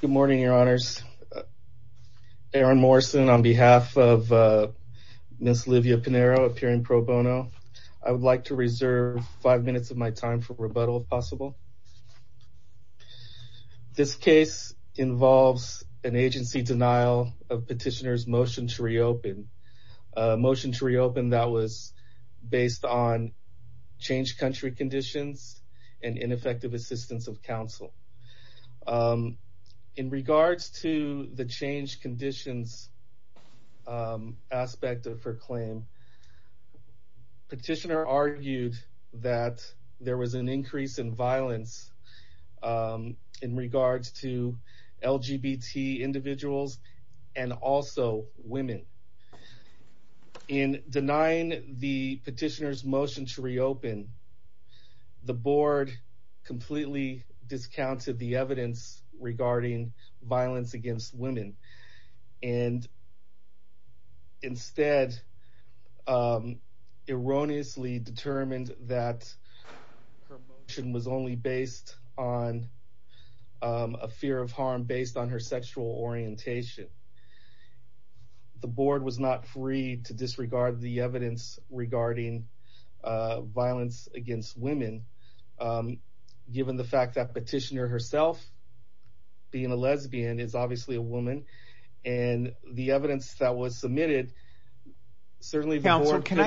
Good morning, your honors. Aaron Morrison, on behalf of Miss Livia Pinheiro, appearing pro bono, I would like to reserve five minutes of my time for rebuttal, if possible. This case involves an agency denial of petitioner's motion to reopen, a motion to reopen that was based on changed country conditions and ineffective assistance of counsel. In regards to the changed conditions aspect of her claim, petitioner argued that there was an increase in violence in regards to LGBT individuals and also women. In denying the petitioner's motion to reopen, the board completely discounted the evidence regarding violence against women and instead erroneously determined that her motion was only based on a fear of harm based on her sexual orientation. The board was not free to disregard the evidence regarding violence against women, given the fact that petitioner herself, being a lesbian, is obviously a woman, and the evidence that was submitted, certainly the board could have... is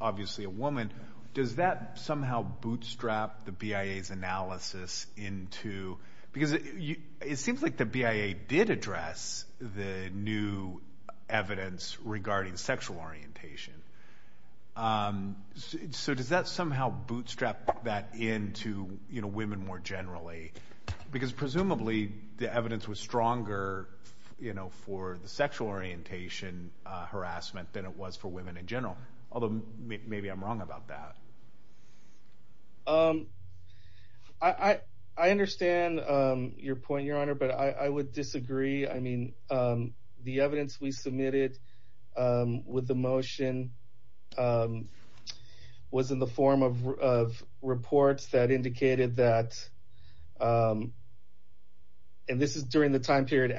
obviously a woman, does that somehow bootstrap the BIA's analysis into... because it seems like the BIA did address the new evidence regarding sexual orientation, so does that somehow bootstrap that into women more generally? Because presumably the evidence was stronger for the sexual orientation harassment than it was for women in general, although maybe I'm wrong about that. I understand your point, your honor, but I would disagree, I mean, the evidence we submitted with the motion was in the form of reports that indicated that, and this is during the election, that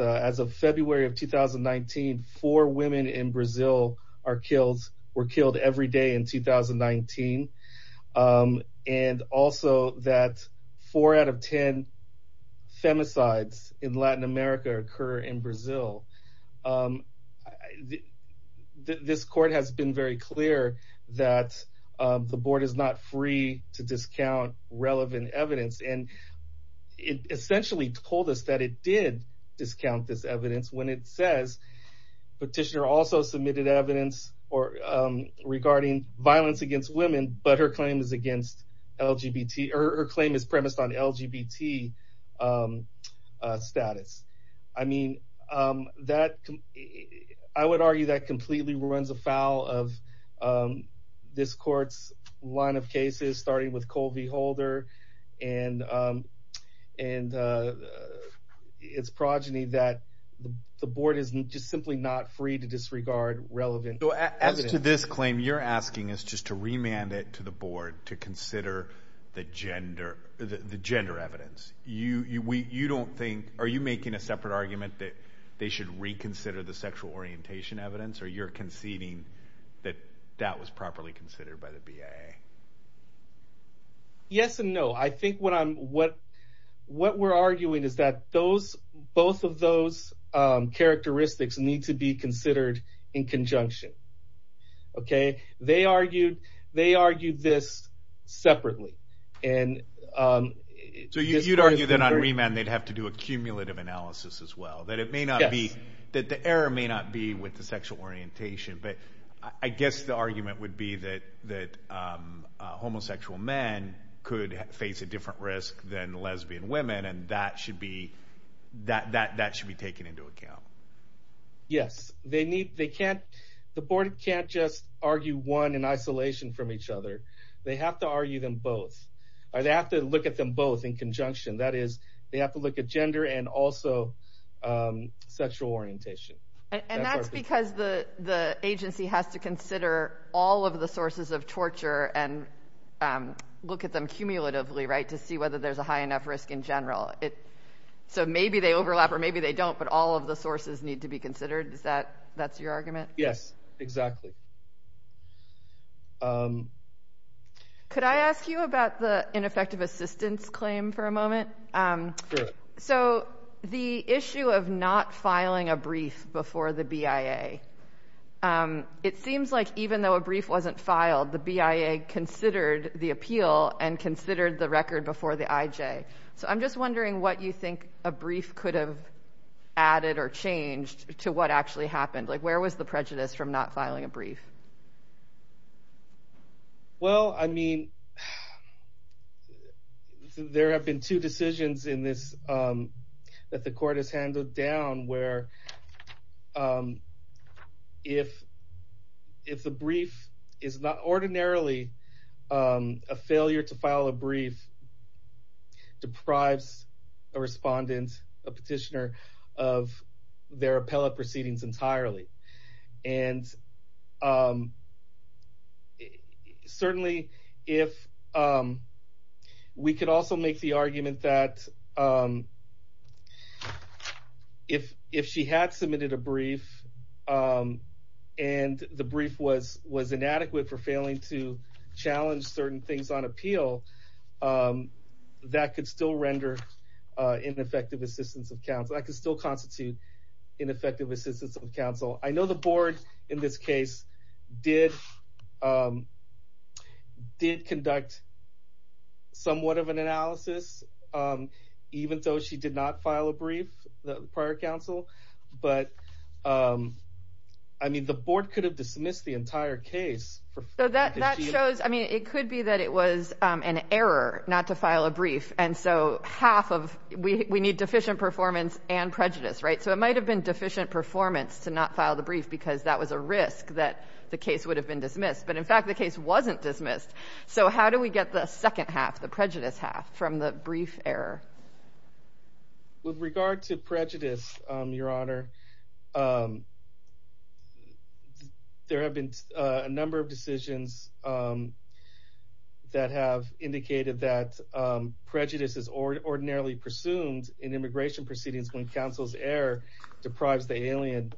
as of February of 2019, four women in Brazil were killed every day in 2019, and also that four out of ten femicides in Latin America occur in Brazil. This court has been very clear that the board is not free to discount relevant evidence, and it essentially told us that it did discount this evidence when it says, petitioner also submitted evidence regarding violence against women, but her claim is against LGBT... or her claim is premised on LGBT status. I mean, I would argue that completely runs afoul of this court's line of cases, starting with Colby Holder, and it's progeny that the board is just simply not free to disregard relevant evidence. As to this claim, you're asking us just to remand it to the board to consider the gender evidence. You don't think... are you making a separate argument that they should reconsider the sexual orientation evidence, or you're conceding that that was properly considered by the BIA? Yes and no. I think what we're arguing is that both of those characteristics need to be considered in conjunction. They argued this separately, and... So you'd argue that on remand they'd have to do a cumulative analysis as well, that it may not be... that the error may not be with the sexual orientation, but I guess the argument would be that homosexual men could face a different risk than lesbian women, and that should be... that should be taken into account. Yes. They need... they can't... the board can't just argue one in isolation from each other. They have to argue them both, or they have to look at them both in conjunction. That is, they have to look at gender and also sexual orientation. And that's because the agency has to consider all of the sources of torture and look at them cumulatively, right, to see whether there's a high enough risk in general. So maybe they overlap, or maybe they don't, but all of the sources need to be considered. Is that... that's your argument? Yes, exactly. Could I ask you about the ineffective assistance claim for a moment? Sure. So the issue of not filing a brief before the BIA, it seems like even though a brief wasn't filed, the BIA considered the appeal and considered the record before the IJ. So I'm just wondering what you think a brief could have added or changed to what actually happened. Like, where was the prejudice from not filing a brief? Well, I mean, there have been two decisions in this that the court has handled down where if the brief is not ordinarily... a failure to file a brief deprives a respondent, a petitioner, of their appellate proceedings entirely. And certainly if... we could also make the argument that if she had submitted a brief and the brief was inadequate for failing to challenge certain things on appeal, that could still render ineffective assistance of counsel. That could still constitute ineffective assistance of counsel. I know the board in this case did conduct somewhat of an analysis, even though she did not file a brief prior to counsel. But, I mean, the board could have dismissed the entire case. So that shows... I mean, it could be that it was an error not to file a brief. And so half of... we need deficient performance and prejudice, right? So it might have been deficient performance to not file the brief because that was a risk that the case would have been dismissed. But, in fact, the case wasn't dismissed. So how do we get the second half, the prejudice half, from the brief error? With regard to prejudice, Your Honor, there have been a number of decisions that have indicated that prejudice is ordinarily presumed in immigration proceedings when counsel's error deprives the alien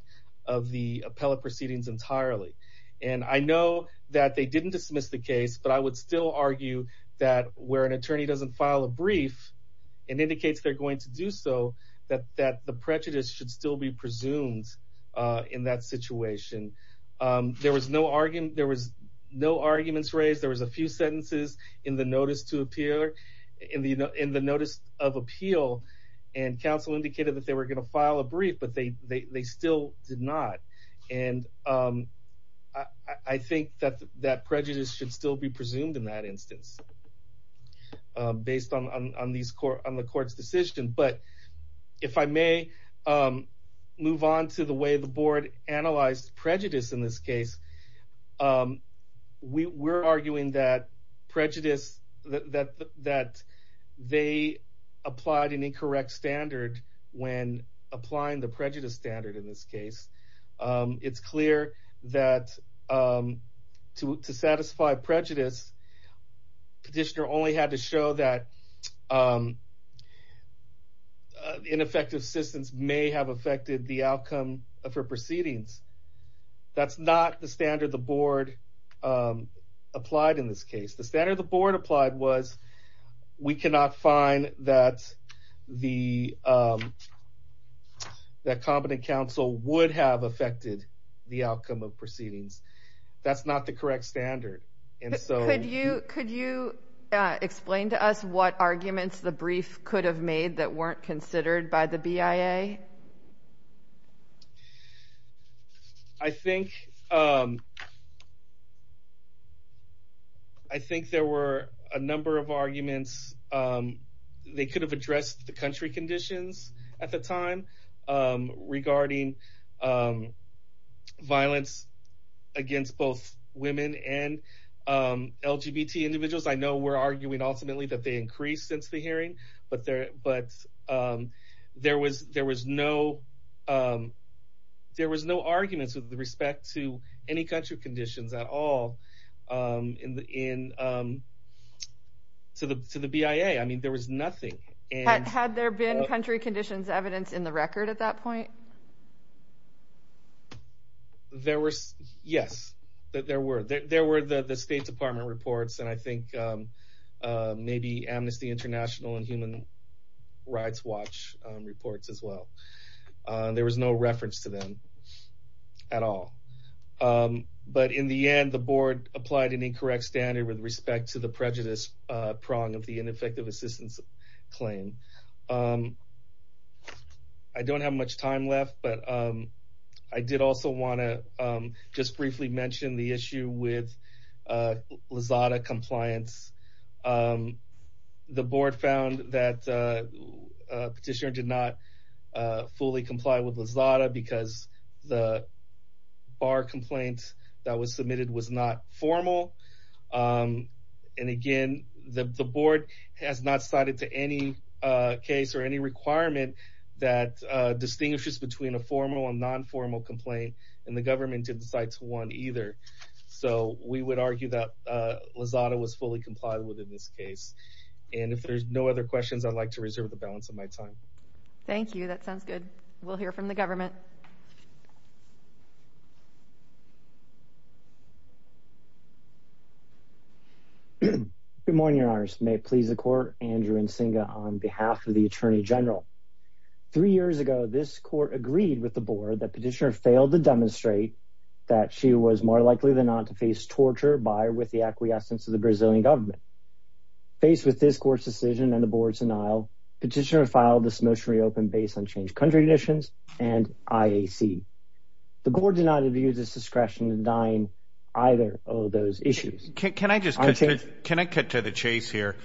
of the appellate proceedings entirely. And I know that they didn't dismiss the case, but I would still argue that where an attorney doesn't file a brief and indicates they're going to do so, that the prejudice should still be presumed in that situation. There was no arguments raised. There was a few sentences in the notice of appeal, and counsel indicated that they were going to file a brief, but they still did not. And I think that prejudice should still be presumed in that instance based on the Court's decision. But if I may move on to the way the Board analyzed prejudice in this case, we're arguing that prejudice... that they applied an incorrect standard when applying the prejudice standard in this case. It's clear that to satisfy prejudice, Petitioner only had to show that ineffective assistance may have affected the outcome of her proceedings. That's not the standard the Board applied in this case. The standard the Board applied was we cannot find that competent counsel would have affected the outcome of proceedings. That's not the correct standard. Could you explain to us what arguments the brief could have made that weren't considered by the BIA? I think there were a number of arguments. They could have addressed the country conditions at the time regarding violence against both women and LGBT individuals. I know we're arguing ultimately that they increased since the hearing, but there was no arguments with respect to any country conditions at all to the BIA. I mean, there was nothing. Had there been country conditions evidence in the record at that point? Yes, there were. There were the State Department reports, and I think maybe Amnesty International and Human Rights Watch reports as well. There was no reference to them at all. But in the end, the Board applied an incorrect standard with respect to the prejudice prong of the ineffective assistance claim. I don't have much time left, but I did also want to just briefly mention the issue with Lizada compliance. The Board found that petitioner did not fully comply with Lizada because the bar complaint that was submitted was not formal. And again, the Board has not cited to any case or any requirement that distinguishes between a formal and non-formal complaint, and the government didn't cite to one either. So we would argue that Lizada was fully complied with in this case. And if there's no other questions, I'd like to reserve the balance of my time. Thank you. That sounds good. We'll hear from the government. Good morning, Your Honors. May it please the Court, Andrew Nsinga on behalf of the Attorney General. Three years ago, this Court agreed with the Board that petitioner failed to demonstrate that she was more likely than not to face torture by or with the acquiescence of the Brazilian government. Faced with this Court's decision and the Board's denial, petitioner filed this motion reopened based on changed country conditions and IAC. The Board did not abuse its discretion in denying either of those issues. Can I just cut to the chase here?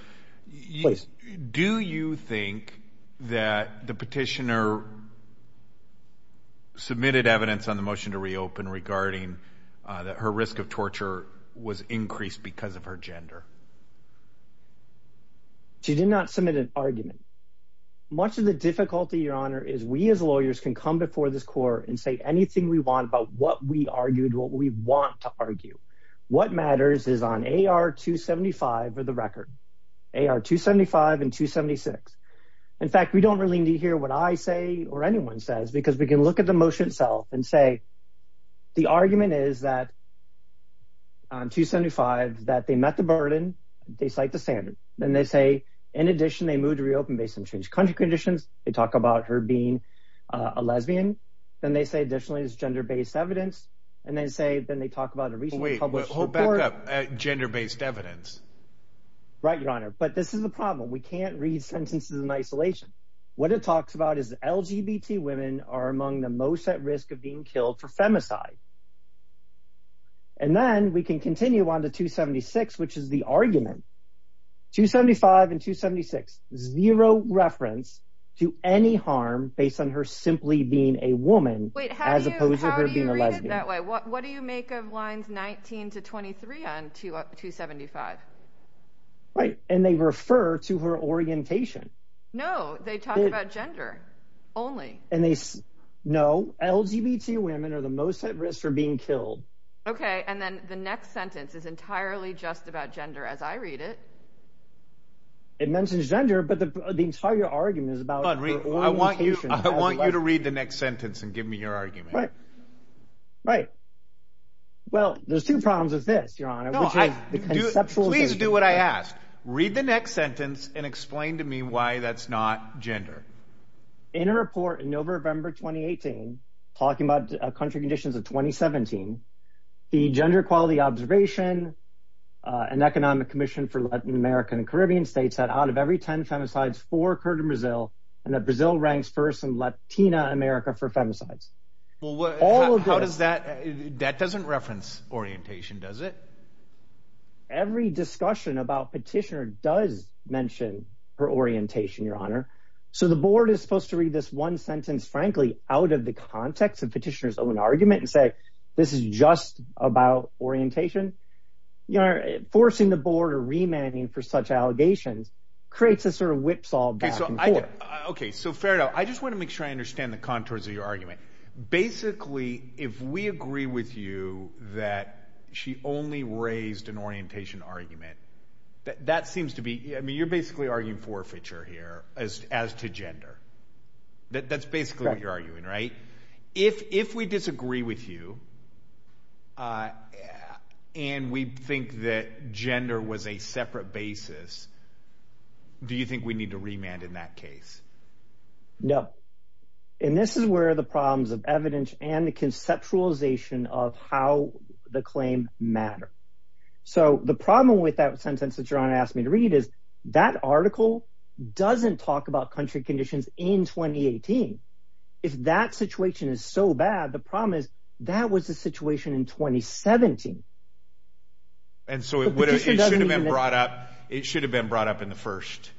Please. Do you think that the petitioner submitted evidence on the motion to reopen regarding that her risk of torture was increased because of her gender? She did not submit an argument. Much of the difficulty, Your Honor, is we as lawyers can come before this Court and say anything we want about what we argued, what we want to argue. What matters is on AR 275 or the record. AR 275 and 276. In fact, we don't really need to hear what I say or anyone says because we can look at the motion itself and say the argument is that on 275 that they met the burden, they cite the standard. Then they say in addition they moved to reopen based on changed country conditions. They talk about her being a lesbian. Then they say additionally it's gender-based evidence. Then they talk about a recently published report. Wait. Hold back up. Gender-based evidence. Right, Your Honor. But this is the problem. We can't read sentences in isolation. What it talks about is LGBT women are among the most at risk of being killed for femicide. Then we can continue on to 276, which is the argument. 275 and 276. Zero reference to any harm based on her simply being a woman as opposed to her being a lesbian. How do you read it that way? What do you make of lines 19 to 23 on 275? Right, and they refer to her orientation. No, they talk about gender only. No, LGBT women are the most at risk for being killed. Okay, and then the next sentence is entirely just about gender as I read it. It mentions gender, but the entire argument is about her orientation. I want you to read the next sentence and give me your argument. Right, right. Well, there's two problems with this, Your Honor. Please do what I asked. Read the next sentence and explain to me why that's not gender. In a report in November 2018 talking about country conditions of 2017, the Gender Equality Observation and Economic Commission for Latin America and Caribbean States said out of every ten femicides, four occurred in Brazil, and that Brazil ranks first in Latina America for femicides. That doesn't reference orientation, does it? Every discussion about petitioner does mention her orientation, Your Honor. So the board is supposed to read this one sentence, frankly, out of the context of petitioner's own argument and say, this is just about orientation. Forcing the board or remanding for such allegations creates a sort of whipsaw back and forth. Okay, so fair enough. I just want to make sure I understand the contours of your argument. Basically, if we agree with you that she only raised an orientation argument, that seems to be you're basically arguing forfeiture here as to gender. That's basically what you're arguing, right? If we disagree with you and we think that gender was a separate basis, do you think we need to remand in that case? No. And this is where the problems of evidence and the conceptualization of how the claim matter. So the problem with that sentence that Your Honor asked me to read is that article doesn't talk about country conditions in 2018. If that situation is so bad, the problem is that was the situation in 2017. And so it should have been brought up in the first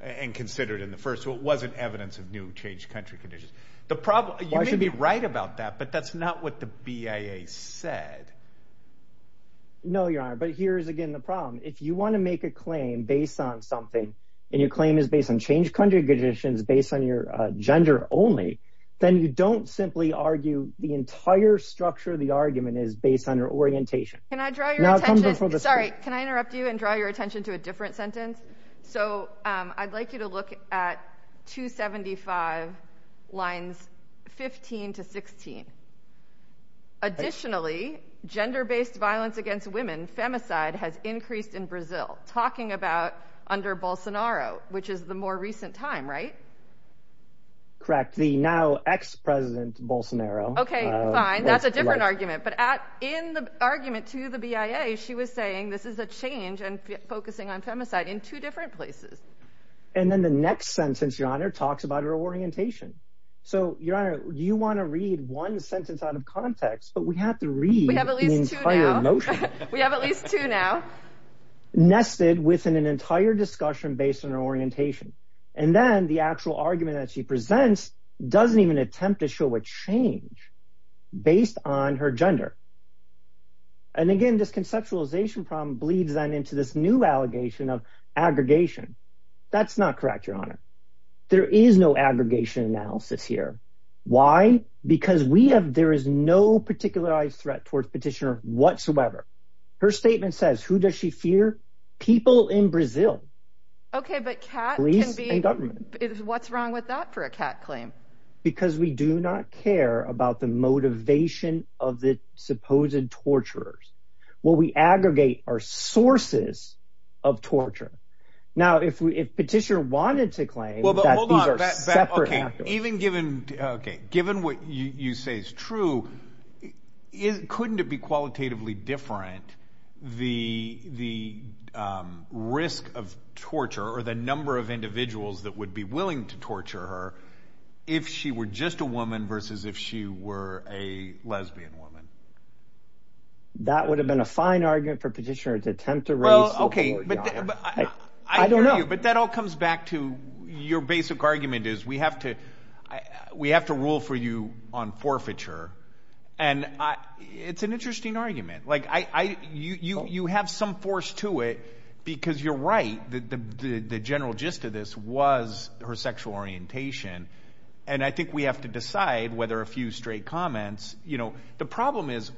and considered in the first. So it wasn't evidence of new changed country conditions. You may be right about that, but that's not what the BIA said. No, Your Honor, but here is again the problem. If you want to make a claim based on something, and your claim is based on changed country conditions based on your gender only, then you don't simply argue the entire structure of the argument is based on your orientation. Can I draw your attention? Sorry, can I interrupt you and draw your attention to a different sentence? So I'd like you to look at 275 lines 15 to 16. Additionally, gender-based violence against women, femicide, has increased in Brazil. Talking about under Bolsonaro, which is the more recent time, right? Correct. The now ex-president Bolsonaro. Okay, fine. That's a different argument. But in the argument to the BIA, she was saying this is a change and focusing on femicide in two different places. And then the next sentence, Your Honor, talks about her orientation. So, Your Honor, you want to read one sentence out of context, but we have to read the entire motion. We have at least two now. Nested within an entire discussion based on her orientation. And then the actual argument that she presents doesn't even attempt to show a change based on her gender. And again, this conceptualization problem bleeds then into this new allegation of aggregation. That's not correct, Your Honor. There is no aggregation analysis here. Why? Because there is no particularized threat towards petitioner whatsoever. Her statement says, who does she fear? People in Brazil. Okay, but cat can be... Police and government. What's wrong with that for a cat claim? Because we do not care about the motivation of the supposed torturers. What we aggregate are sources of torture. Now, if petitioner wanted to claim that these are separate actors... Okay, given what you say is true, couldn't it be qualitatively different the risk of torture or the number of individuals that would be willing to torture her if she were just a woman versus if she were a lesbian woman? That would have been a fine argument for petitioner to attempt to raise... Well, okay. I don't know. But that all comes back to your basic argument is we have to rule for you on forfeiture. And it's an interesting argument. You have some force to it because you're right. The general gist of this was her sexual orientation. And I think we have to decide whether a few straight comments... The problem is,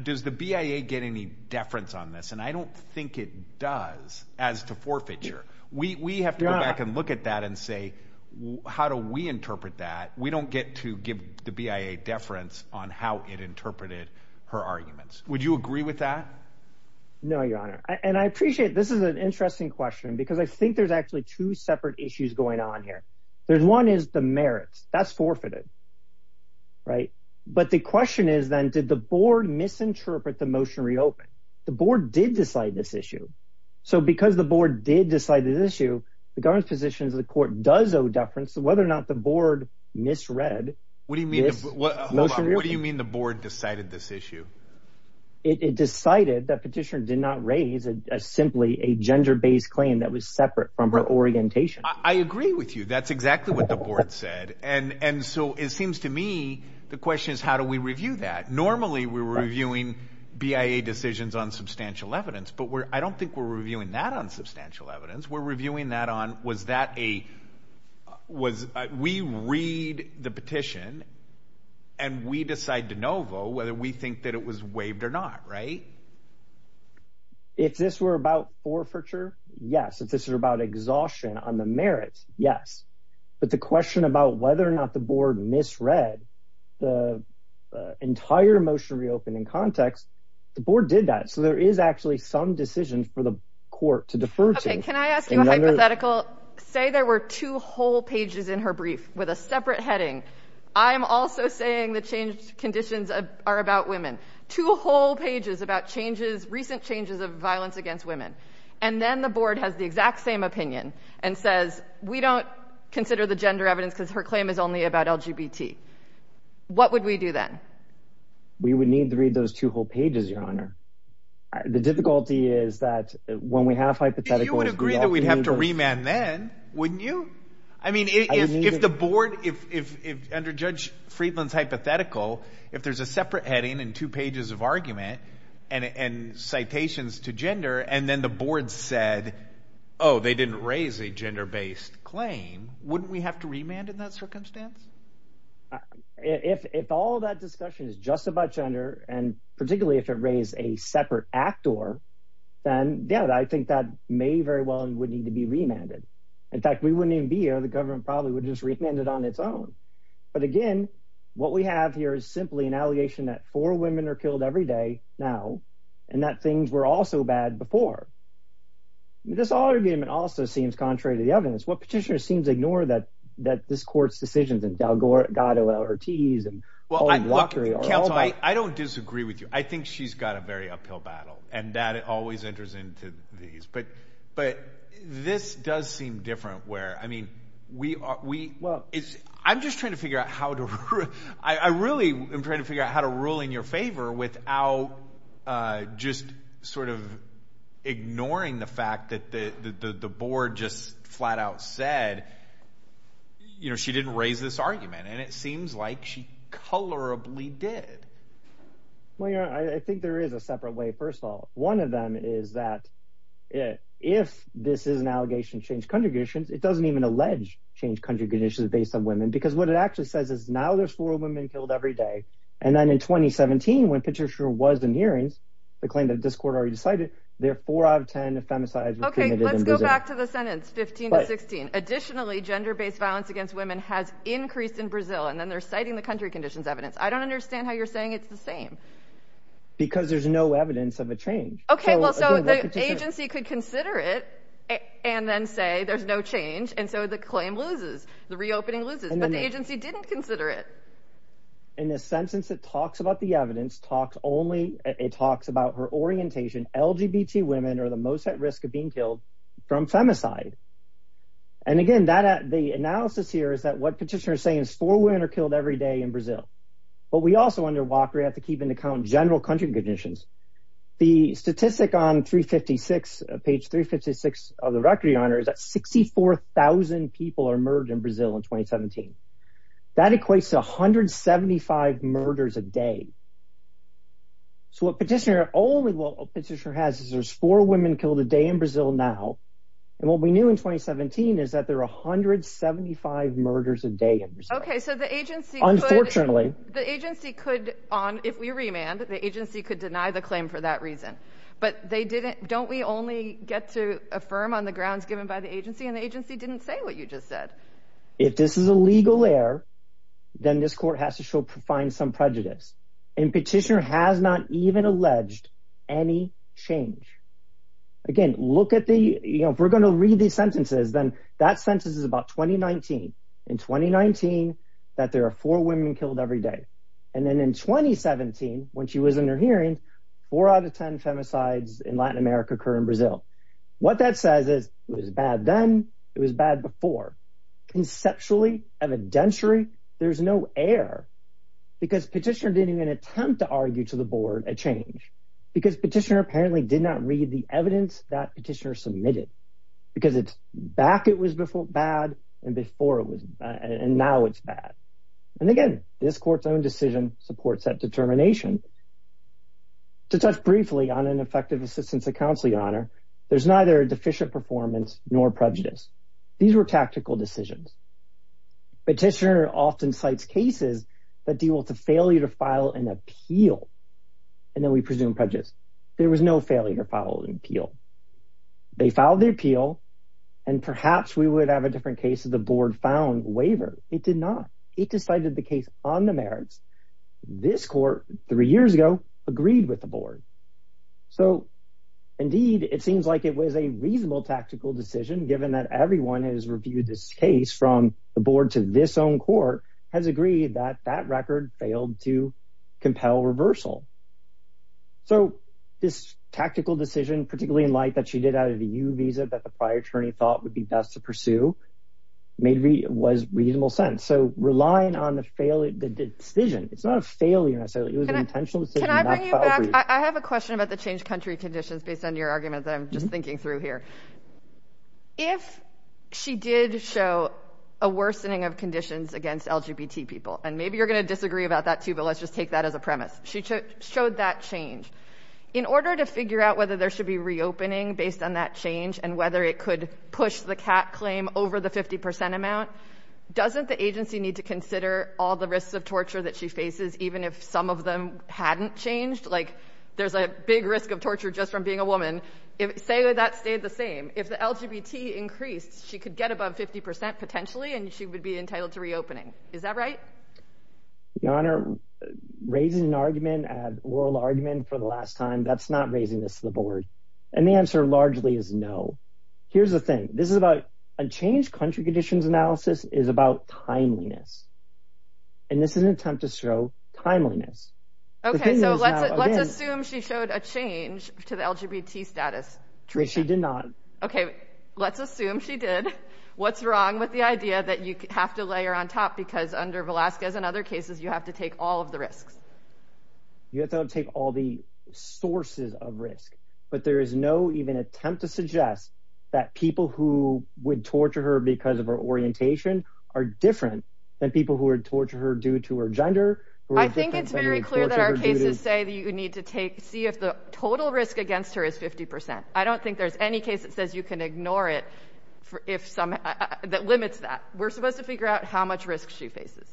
does the BIA get any deference on this? And I don't think it does as to forfeiture. We have to go back and look at that and say, how do we interpret that? We don't get to give the BIA deference on how it interpreted her arguments. Would you agree with that? No, Your Honor. And I appreciate this is an interesting question because I think there's actually two separate issues going on here. One is the merits. That's forfeited. But the question is then, did the board misinterpret the motion reopened? The board did decide this issue. So because the board did decide this issue, the government's position is the court does owe deference to whether or not the board misread this motion reopened. What do you mean the board decided this issue? It decided that petitioner did not raise simply a gender-based claim that was separate from her orientation. I agree with you. That's exactly what the board said. And so it seems to me the question is, how do we review that? Normally we're reviewing BIA decisions on substantial evidence, but I don't think we're reviewing that on substantial evidence. We're reviewing that on was that a – we read the petition and we decide de novo whether we think that it was waived or not, right? If this were about forfeiture, yes. If this were about exhaustion on the merits, yes. But the question about whether or not the board misread the entire motion reopened in context, the board did that. So there is actually some decisions for the court to defer to. Okay, can I ask you a hypothetical? Say there were two whole pages in her brief with a separate heading. I am also saying the changed conditions are about women. Two whole pages about changes, recent changes of violence against women. And then the board has the exact same opinion and says, we don't consider the gender evidence because her claim is only about LGBT. What would we do then? We would need to read those two whole pages, Your Honor. The difficulty is that when we have hypotheticals, you would agree that we'd have to remand then, wouldn't you? I mean, if the board, if under Judge Friedland's hypothetical, if there's a separate heading and two pages of argument and citations to gender and then the board said, oh, they didn't raise a gender-based claim, wouldn't we have to remand in that circumstance? If all that discussion is just about gender and particularly if it raised a separate actor, then, yeah, I think that may very well and would need to be remanded. In fact, we wouldn't even be here. The government probably would just remand it on its own. But again, what we have here is simply an allegation that four women are killed every day now and that things were also bad before. This argument also seems contrary to the evidence. What petitioner seems to ignore that this court's decisions in Delgado, Ortiz, and Walker are all bad. Well, counsel, I don't disagree with you. I think she's got a very uphill battle, and that always enters into these. But this does seem different where, I mean, we are – I'm just trying to figure out how to – I really am trying to figure out how to rule in your favor without just sort of ignoring the fact that the board just flat-out said, you know, she didn't raise this argument, and it seems like she colorably did. Well, I think there is a separate way, first of all. One of them is that if this is an allegation to change country conditions, it doesn't even allege change country conditions based on women because what it actually says is now there's four women killed every day, and then in 2017 when Petitioner was in hearings, the claim that this court already decided, there are four out of ten femicides were committed in Brazil. Okay, let's go back to the sentence, 15 to 16. Additionally, gender-based violence against women has increased in Brazil, and then they're citing the country conditions evidence. I don't understand how you're saying it's the same. Because there's no evidence of a change. Okay, well, so the agency could consider it and then say there's no change, and so the claim loses, the reopening loses, but the agency didn't consider it. In the sentence it talks about the evidence, it talks about her orientation, LGBT women are the most at risk of being killed from femicide. And again, the analysis here is that what Petitioner is saying is four women are killed every day in Brazil. But we also under Walker have to keep in account general country conditions. The statistic on page 356 of the record, Your Honor, is that 64,000 people are murdered in Brazil in 2017. That equates to 175 murders a day. So what Petitioner has is there's four women killed a day in Brazil now, and what we knew in 2017 is that there are 175 murders a day in Brazil. Okay, so the agency could, if we remand, the agency could deny the claim for that reason. But they didn't, don't we only get to affirm on the grounds given by the agency, and the agency didn't say what you just said. If this is a legal error, then this court has to find some prejudice. And Petitioner has not even alleged any change. Again, look at the, you know, if we're going to read these sentences, then that sentence is about 2019. In 2019, that there are four women killed every day. And then in 2017, when she was in her hearing, four out of ten femicides in Latin America occur in Brazil. What that says is it was bad then, it was bad before. Conceptually evidentiary, there's no error. Because Petitioner didn't even attempt to argue to the board a change. Because Petitioner apparently did not read the evidence that Petitioner submitted. Because back it was bad, and before it was bad, and now it's bad. And again, this court's own decision supports that determination. To touch briefly on an effective assistance of counsel, Your Honor, there's neither a deficient performance nor prejudice. These were tactical decisions. Petitioner often cites cases that deal with the failure to file an appeal, and then we presume prejudice. There was no failure to file an appeal. They filed the appeal, and perhaps we would have a different case if the board found waiver. It did not. It decided the case on the merits. This court, three years ago, agreed with the board. So indeed, it seems like it was a reasonable tactical decision, given that everyone has reviewed this case from the board to this own court, has agreed that that record failed to compel reversal. So this tactical decision, particularly in light that she did out of the U visa that the prior attorney thought would be best to pursue, was reasonable sense. So relying on the decision, it's not a failure necessarily. It was an intentional decision. Can I bring you back? I have a question about the changed country conditions, based on your argument that I'm just thinking through here. If she did show a worsening of conditions against LGBT people, and maybe you're going to disagree about that too, but let's just take that as a premise. She showed that change. In order to figure out whether there should be reopening based on that change and whether it could push the CAT claim over the 50% amount, doesn't the agency need to consider all the risks of torture that she faces, even if some of them hadn't changed? Like there's a big risk of torture just from being a woman. Say that stayed the same. If the LGBT increased, she could get above 50% potentially, and she would be entitled to reopening. Is that right? Your Honor, raising an argument, an oral argument for the last time, that's not raising this to the board. And the answer largely is no. Here's the thing. This is about a changed country conditions analysis is about timeliness. And this is an attempt to show timeliness. Okay, so let's assume she showed a change to the LGBT status. She did not. Okay, let's assume she did. What's wrong with the idea that you have to lay her on top because under Velasquez and other cases you have to take all of the risks? You have to take all the sources of risk. But there is no even attempt to suggest that people who would torture her because of her orientation are different than people who would torture her due to her gender. I think it's very clear that our cases say that you need to take, see if the total risk against her is 50%. I don't think there's any case that says you can ignore it that limits that. We're supposed to figure out how much risk she faces.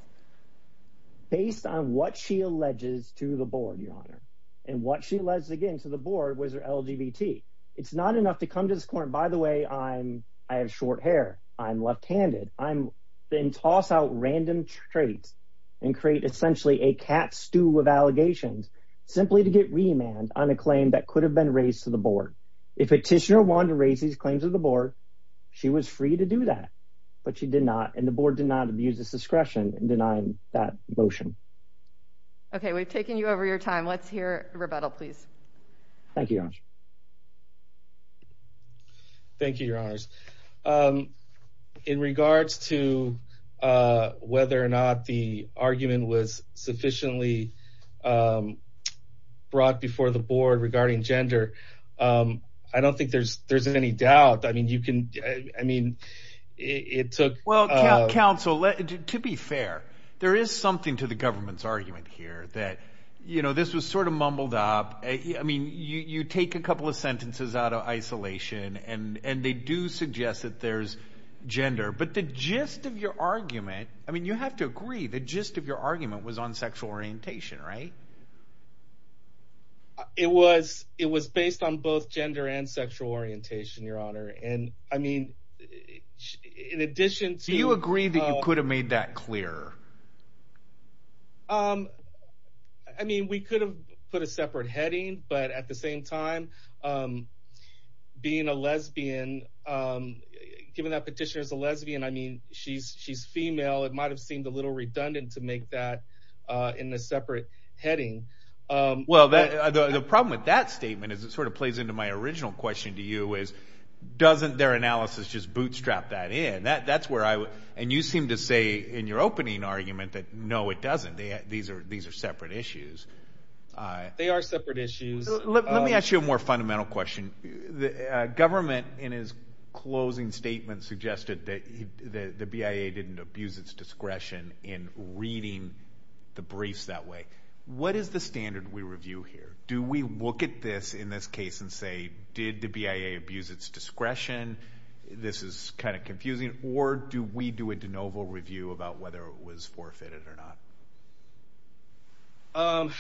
Based on what she alleges to the board, Your Honor, and what she alleges again to the board was her LGBT. It's not enough to come to this point, by the way, I have short hair. I'm left-handed. Then toss out random traits and create essentially a cat stew of allegations simply to get remand on a claim that could have been raised to the board. If a petitioner wanted to raise these claims to the board, she was free to do that, but she did not, and the board did not abuse its discretion in denying that motion. Okay, we've taken you over your time. Let's hear rebuttal, please. Thank you, Your Honor. Thank you, Your Honors. In regards to whether or not the argument was sufficiently brought before the board regarding gender, I don't think there's any doubt. I mean, it took— Well, counsel, to be fair, there is something to the government's argument here that, you know, this was sort of mumbled up. I mean, you take a couple of sentences out of isolation, and they do suggest that there's gender. But the gist of your argument, I mean, you have to agree, the gist of your argument was on sexual orientation, right? It was based on both gender and sexual orientation, Your Honor. And, I mean, in addition to— Do you agree that you could have made that clearer? I mean, we could have put a separate heading, but at the same time, being a lesbian, given that Petitioner's a lesbian, I mean, she's female, it might have seemed a little redundant to make that in a separate heading. Well, the problem with that statement, as it sort of plays into my original question to you, is doesn't their analysis just bootstrap that in? And you seem to say in your opening argument that, no, it doesn't. These are separate issues. They are separate issues. Let me ask you a more fundamental question. The government, in its closing statement, suggested that the BIA didn't abuse its discretion in reading the briefs that way. What is the standard we review here? Do we look at this in this case and say, did the BIA abuse its discretion? This is kind of confusing. Or do we do a de novo review about whether it was forfeited or not?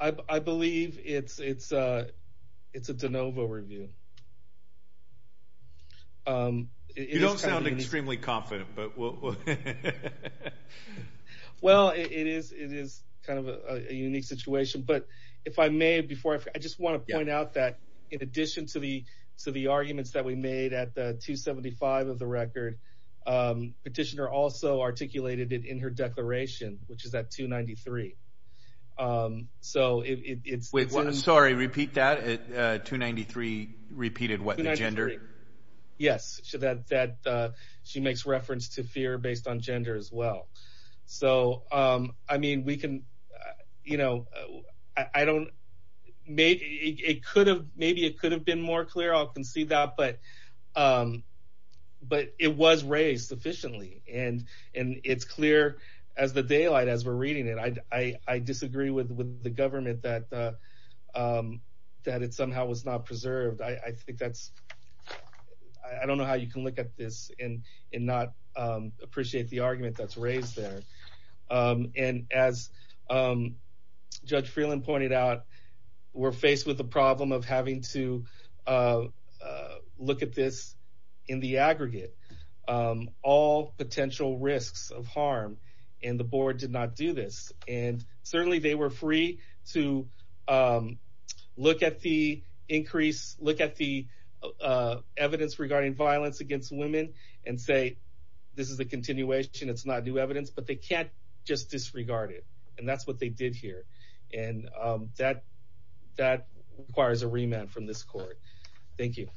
I believe it's a de novo review. You don't sound extremely confident, but we'll— Well, it is kind of a unique situation. But if I may, I just want to point out that, in addition to the arguments that we made at 275 of the record, Petitioner also articulated it in her declaration, which is at 293. Wait, sorry, repeat that? 293 repeated what, the gender? Yes, that she makes reference to fear based on gender as well. So, I mean, we can— Maybe it could have been more clear. I'll concede that. But it was raised sufficiently. And it's clear as the daylight as we're reading it. I disagree with the government that it somehow was not preserved. I think that's—I don't know how you can look at this and not appreciate the argument that's raised there. And as Judge Freeland pointed out, we're faced with the problem of having to look at this in the aggregate. All potential risks of harm, and the board did not do this. And certainly they were free to look at the increase, look at the evidence regarding violence against women and say, this is a continuation, it's not new evidence. But they can't just disregard it. And that's what they did here. And that requires a remand from this court. Thank you.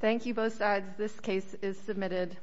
Thank you both sides. This case is submitted.